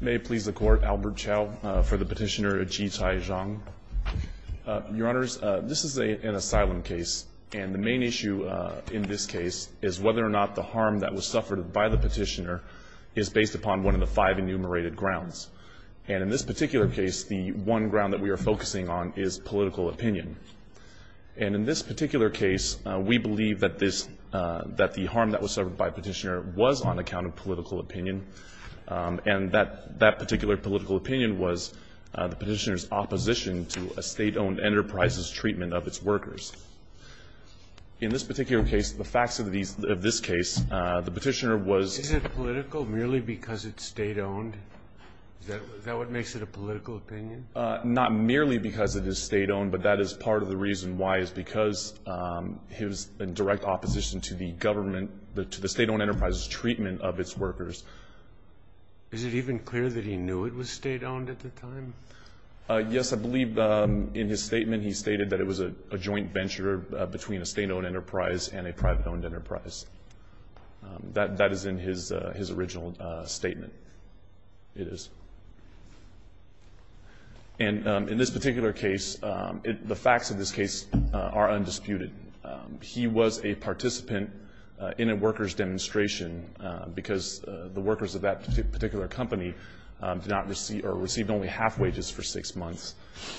May it please the Court, Albert Chow for the Petitioner Ji Cai Zhang. Your Honours, this is an asylum case and the main issue in this case is whether or not the harm that was suffered by the Petitioner is based upon one of the five enumerated grounds. And in this particular case, the one ground that we are focusing on is political opinion. And in this particular case, we believe that this, that the harm that was suffered by Petitioner was on account of political opinion. And that particular political opinion was the Petitioner's opposition to a State-owned enterprise's treatment of its workers. In this particular case, the facts of these of this case, the Petitioner was Is it political merely because it's State-owned? Is that what makes it a political opinion? Not merely because it is State-owned, but that is part of the reason why is because his direct opposition to the government, to the State-owned enterprise's treatment of its workers. Is it even clear that he knew it was State-owned at the time? Yes, I believe in his statement he stated that it was a joint venture between a State-owned enterprise and a private-owned enterprise. That is in his original statement. It is. And in this particular case, the facts of this case are undisputed. He was a of that particular company did not receive or received only half wages for six months.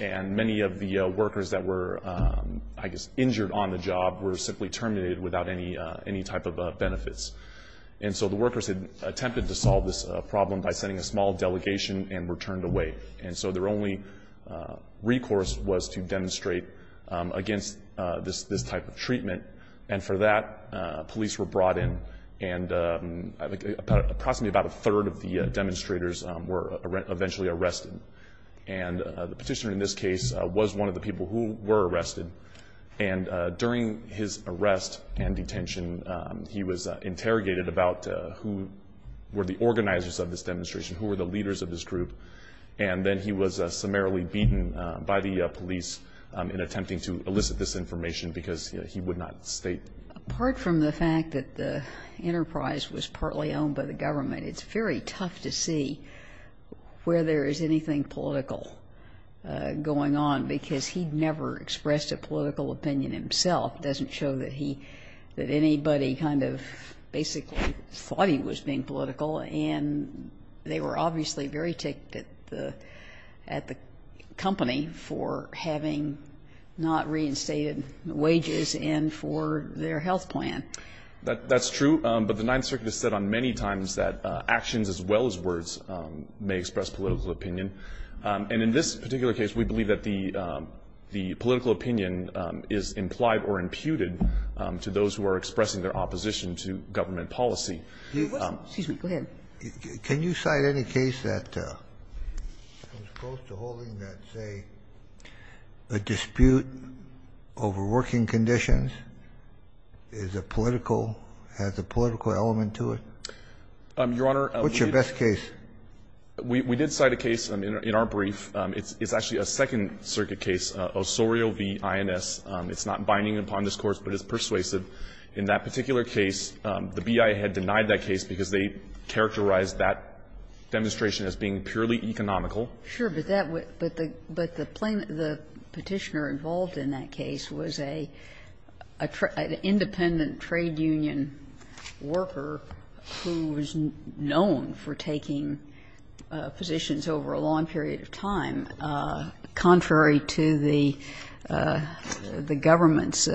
And many of the workers that were, I guess, injured on the job were simply terminated without any type of benefits. And so the workers had attempted to solve this problem by sending a small delegation and were turned away. And so their only recourse was to demonstrate against this type of treatment. And for that, police were brought in. And approximately about a third of the demonstrators were eventually arrested. And the petitioner in this case was one of the people who were arrested. And during his arrest and detention, he was interrogated about who were the organizers of this demonstration, who were the leaders of this group. And then he was summarily beaten by the police in attempting to elicit this information because he would not state. Apart from the fact that the enterprise was partly owned by the government, it's very tough to see where there is anything political going on because he never expressed a political opinion himself. It doesn't show that anybody kind of basically thought he was being political. And they were obviously very ticked at the company for having not reinstated wages and for their health plan. That's true. But the Ninth Circuit has said on many times that actions as well as words may express political opinion. And in this particular case, we believe that the political opinion is implied or imputed to those who are expressing their opposition to government policy. Excuse me. Go ahead. Can you cite any case that comes close to holding that, say, a dispute over working conditions is a political, has a political element to it? Your Honor. What's your best case? We did cite a case in our brief. It's actually a Second Circuit case, Osorio v. INS. It's not binding upon discourse, but it's persuasive. In that particular case, the BIA had denied that case because they characterized that demonstration as being purely economical. Sure. But that would be the plaintiff, the Petitioner involved in that case was a, an independent trade union worker who was known for taking positions over a long period of time, contrary to the government's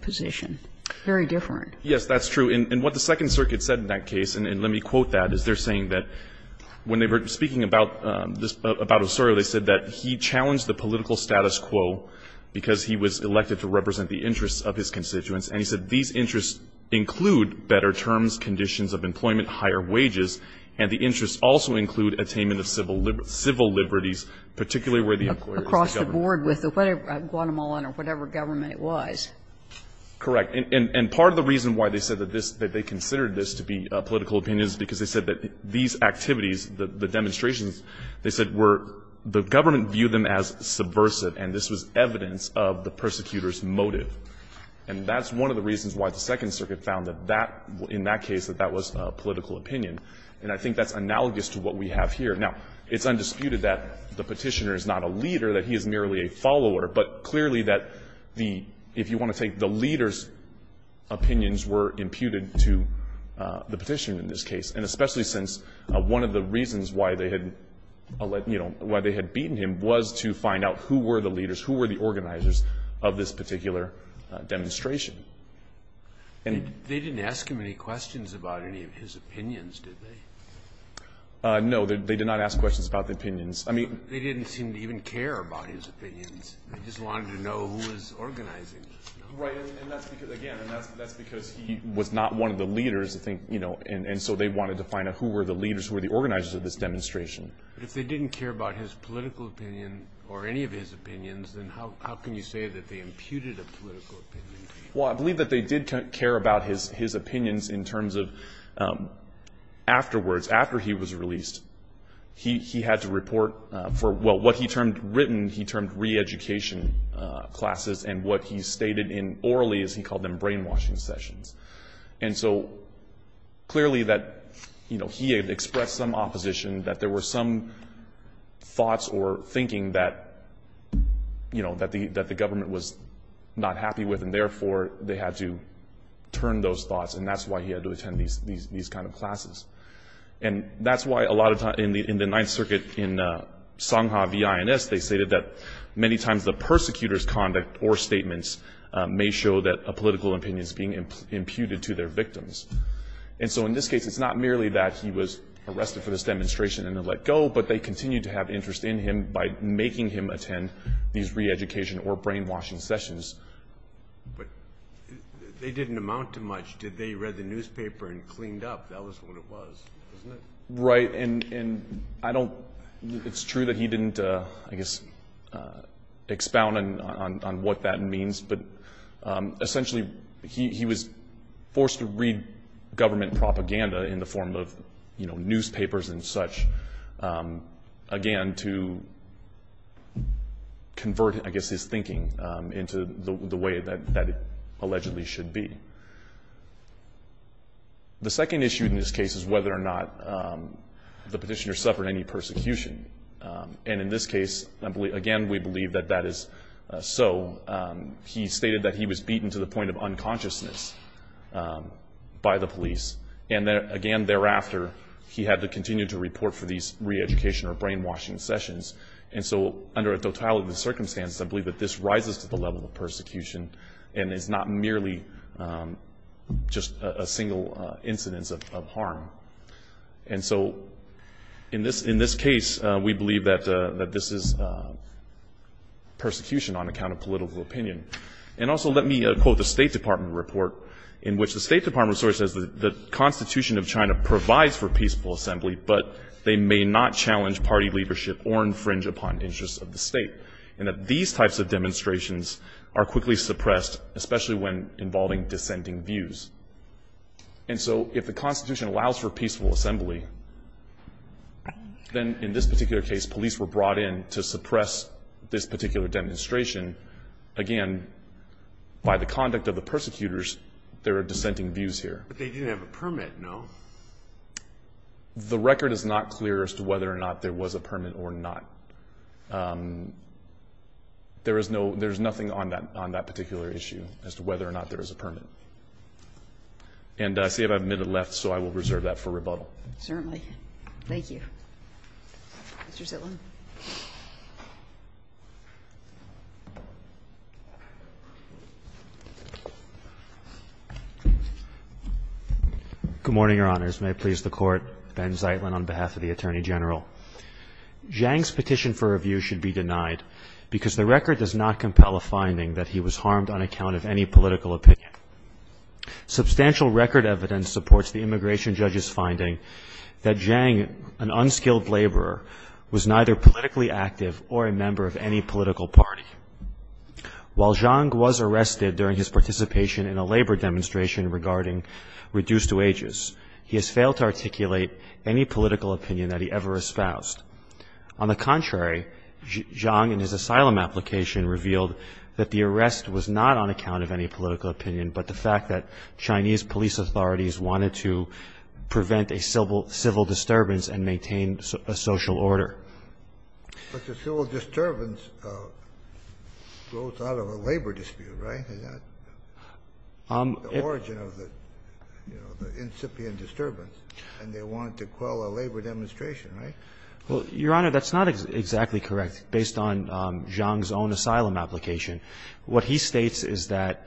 position. Very different. Yes, that's true. And what the Second Circuit said in that case, and let me quote that, is they're saying that when they were speaking about Osorio, they said that he challenged the political status quo because he was elected to represent the interests of his constituents. And he said these interests include better terms, conditions of employment, higher wages, and the interests also include attainment of civil liberties, particularly where the employer is the government. Across the board with the Guatemalan or whatever government it was. Correct. And part of the reason why they said that this, that they considered this to be political opinion is because they said that these activities, the demonstrations, they said were, the government viewed them as subversive and this was evidence of the persecutor's motive. And that's one of the reasons why the Second Circuit found that that, in that case, that that was a political opinion. And I think that's analogous to what we have here. Now, it's undisputed that the Petitioner is not a leader, that he is merely a follower. But clearly that the, if you want to take the leader's opinions were imputed to the Petitioner in this case, and especially since one of the reasons why they had, you know, why they had beaten him was to find out who were the leaders, who were the organizers of this particular demonstration. And they didn't ask him any questions about any of his opinions, did they? No, they did not ask questions about the opinions. I mean, they didn't seem to even care about his opinions. They just wanted to know who was organizing. Right, and that's because, again, and that's because he was not one of the leaders, I think, you know, and so they wanted to find out who were the leaders, who were the organizers of this demonstration. But if they didn't care about his political opinion or any of his opinions, then how can you say that they imputed a political opinion? Well, I believe that they did care about his opinions in terms of afterwards, after he was released, he had to report for, well, what he termed written, he termed re-education classes and what he stated in, orally as he called them, brainwashing sessions. And so clearly that, you know, he had expressed some opposition, that there were some thoughts or thinking that, you know, that the government was not happy with and therefore they had to turn those thoughts and that's why he had to attend these kind of classes. And that's why a lot of times, in the Ninth Circuit in Songha v. INS, they stated that many times the persecutor's conduct or statements may show that a political opinion is being imputed to their victims. And so in this case, it's not merely that he was arrested for this demonstration and then let go, but they continued to have interest in him by making him attend these re-education or brainwashing sessions. But they didn't amount to much, did they? He read the newspaper and cleaned up, that was what it was, wasn't it? Right, and I don't, it's true that he didn't, I guess, expound on what that means, but essentially he was forced to read government propaganda in the form of, you know, newspapers and such, again, to convert, I guess, his thinking into the way that it allegedly should be. The second issue in this case is whether or not the petitioner suffered any persecution. And in this case, again, we believe that that is so. He stated that he was beaten to the point of unconsciousness by the police. And again, thereafter, he had to continue to report for these re-education or brainwashing sessions. And so under a totality of circumstances, I believe that this rises to the level of persecution and it's not merely just a single incidence of harm. And so in this case, we believe that this is persecution on account of political opinion. And also let me quote the State Department report in which the State Department source says that the Constitution of China provides for peaceful assembly, but they may not challenge party leadership or infringe upon interests of the state, and that these types of demonstrations are quickly suppressed, especially when involving dissenting views. And so if the Constitution allows for peaceful assembly, then in this particular case, the police were brought in to suppress this particular demonstration. Again, by the conduct of the persecutors, there are dissenting views here. But they didn't have a permit, no? The record is not clear as to whether or not there was a permit or not. There is nothing on that particular issue as to whether or not there is a permit. And I see I have a minute left, so I will reserve that for rebuttal. Certainly. Thank you. Mr. Zaitlin. Good morning, Your Honors. May it please the Court. Ben Zaitlin on behalf of the Attorney General. Zhang's petition for review should be denied because the record does not compel a finding that he was harmed on account of any political opinion. Substantial record evidence supports the immigration judge's finding that Zhang, an unskilled laborer, was neither politically active or a member of any political party. While Zhang was arrested during his participation in a labor demonstration regarding reduced wages, he has failed to articulate any political opinion that he ever espoused. On the contrary, Zhang, in his asylum application, revealed that the arrest was not on account of any political opinion, but the fact that Chinese police authorities wanted to prevent a civil disturbance and maintain a social order. But the civil disturbance grows out of a labor dispute, right? Is that the origin of the, you know, the incipient disturbance? And they wanted to quell a labor demonstration, right? Well, Your Honor, that's not exactly correct based on Zhang's own asylum application. What he states is that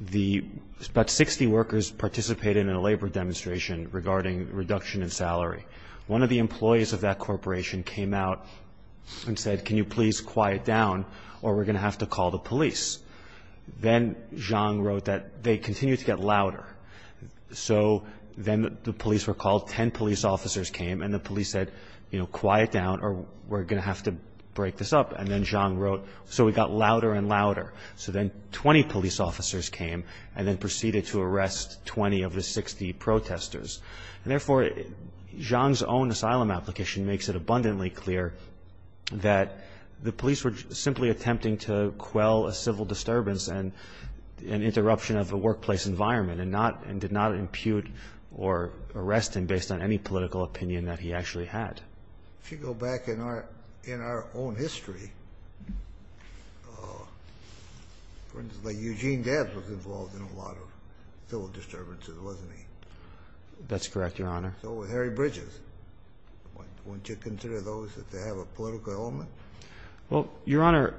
about 60 workers participated in a labor demonstration regarding reduction in salary. One of the employees of that corporation came out and said, can you please quiet down or we're going to have to call the police. Then Zhang wrote that they continued to get louder. So then the police were called. Ten police officers came and the police said, you know, quiet down or we're going to have to break this up. And then Zhang wrote, so we got louder and louder. So then 20 police officers came and then proceeded to arrest 20 of the 60 protesters. And therefore, Zhang's own asylum application makes it abundantly clear that the police were simply attempting to quell a civil disturbance and an interruption of the workplace environment and did not impute or arrest him based on any political opinion that he actually had. If you go back in our own history, for instance, Eugene Debs was involved in a lot of civil disturbances, wasn't he? That's correct, Your Honor. So was Harry Bridges. Wouldn't you consider those if they have a political element? Well, Your Honor,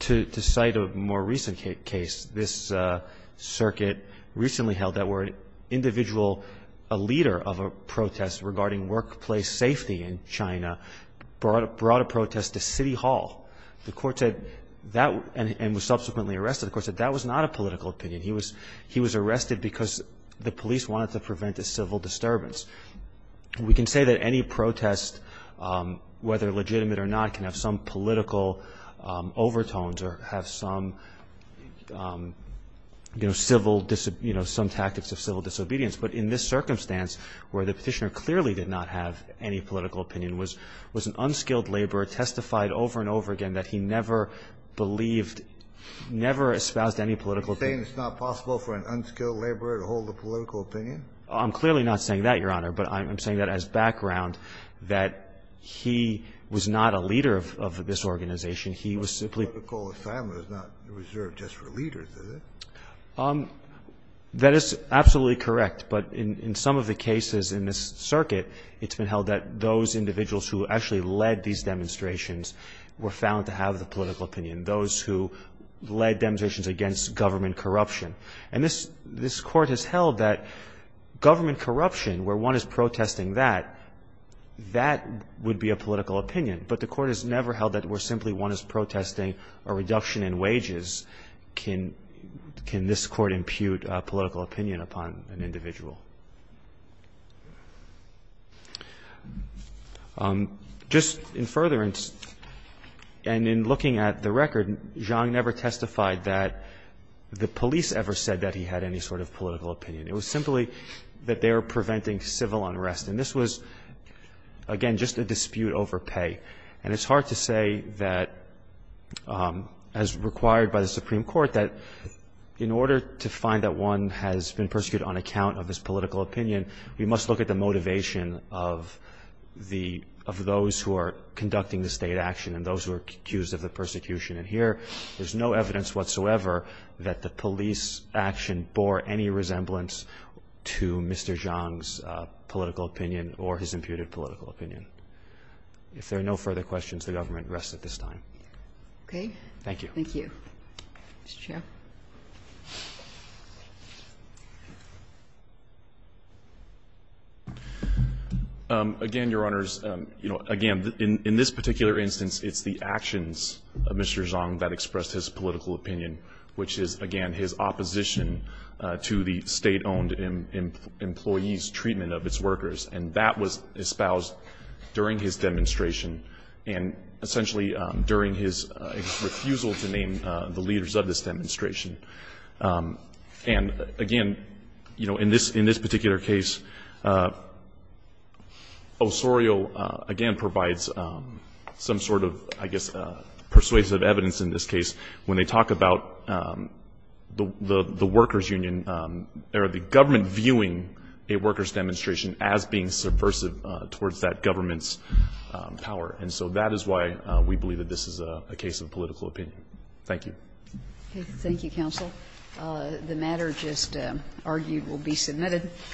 to cite a more recent case, this circuit recently held that we're an individual, a leader of a protest regarding workplace safety in China brought a protest to City Hall. The court said that and was subsequently arrested. The court said that was not a political opinion. He was arrested because the police wanted to prevent a civil disturbance. We can say that any protest, whether legitimate or not, can have some political overtones or have some, you know, some tactics of civil disobedience. But in this circumstance where the Petitioner clearly did not have any political opinion was an unskilled laborer testified over and over again that he never believed ñ never espoused any political opinion. You're saying it's not possible for an unskilled laborer to hold a political opinion? I'm clearly not saying that, Your Honor. But I'm saying that as background that he was not a leader of this organization. He was simply ñ A political assignment is not reserved just for leaders, is it? That is absolutely correct. But in some of the cases in this circuit, it's been held that those individuals who actually led these demonstrations were found to have the political opinion, those who led demonstrations against government corruption. And this court has held that government corruption, where one is protesting that, that would be a political opinion. But the court has never held that where simply one is protesting a reduction in wages can this court impute a political opinion upon an individual. Just in furtherance, and in looking at the record, Zhang never testified that the police ever said that he had any sort of political opinion. It was simply that they were preventing civil unrest. And this was, again, just a dispute over pay. And it's hard to say that, as required by the Supreme Court, that in order to find that one has been persecuted on account of his political opinion, we must look at the motivation of those who are conducting the state action and those who are accused of the persecution. And here, there's no evidence whatsoever that the police action bore any resemblance to Mr. Zhang's political opinion or his imputed political opinion. If there are no further questions, the government rests at this time. Thank you. Thank you. Mr. Chair. Again, Your Honors, you know, again, in this particular instance, it's the actions of Mr. Zhang that expressed his political opinion, which is, again, his opposition to the state-owned employee's treatment of its workers. And that was espoused during his demonstration and essentially during his refusal to name the leaders of this demonstration. And, again, you know, in this particular case, Osorio, again, provides some sort of, I guess, persuasive evidence in this case when they talk about the workers' union or the government viewing a workers' demonstration as being subversive towards that government's power. And so that is why we believe that this is a case of political opinion. Thank you. Thank you, counsel. The matter just argued will be submitted.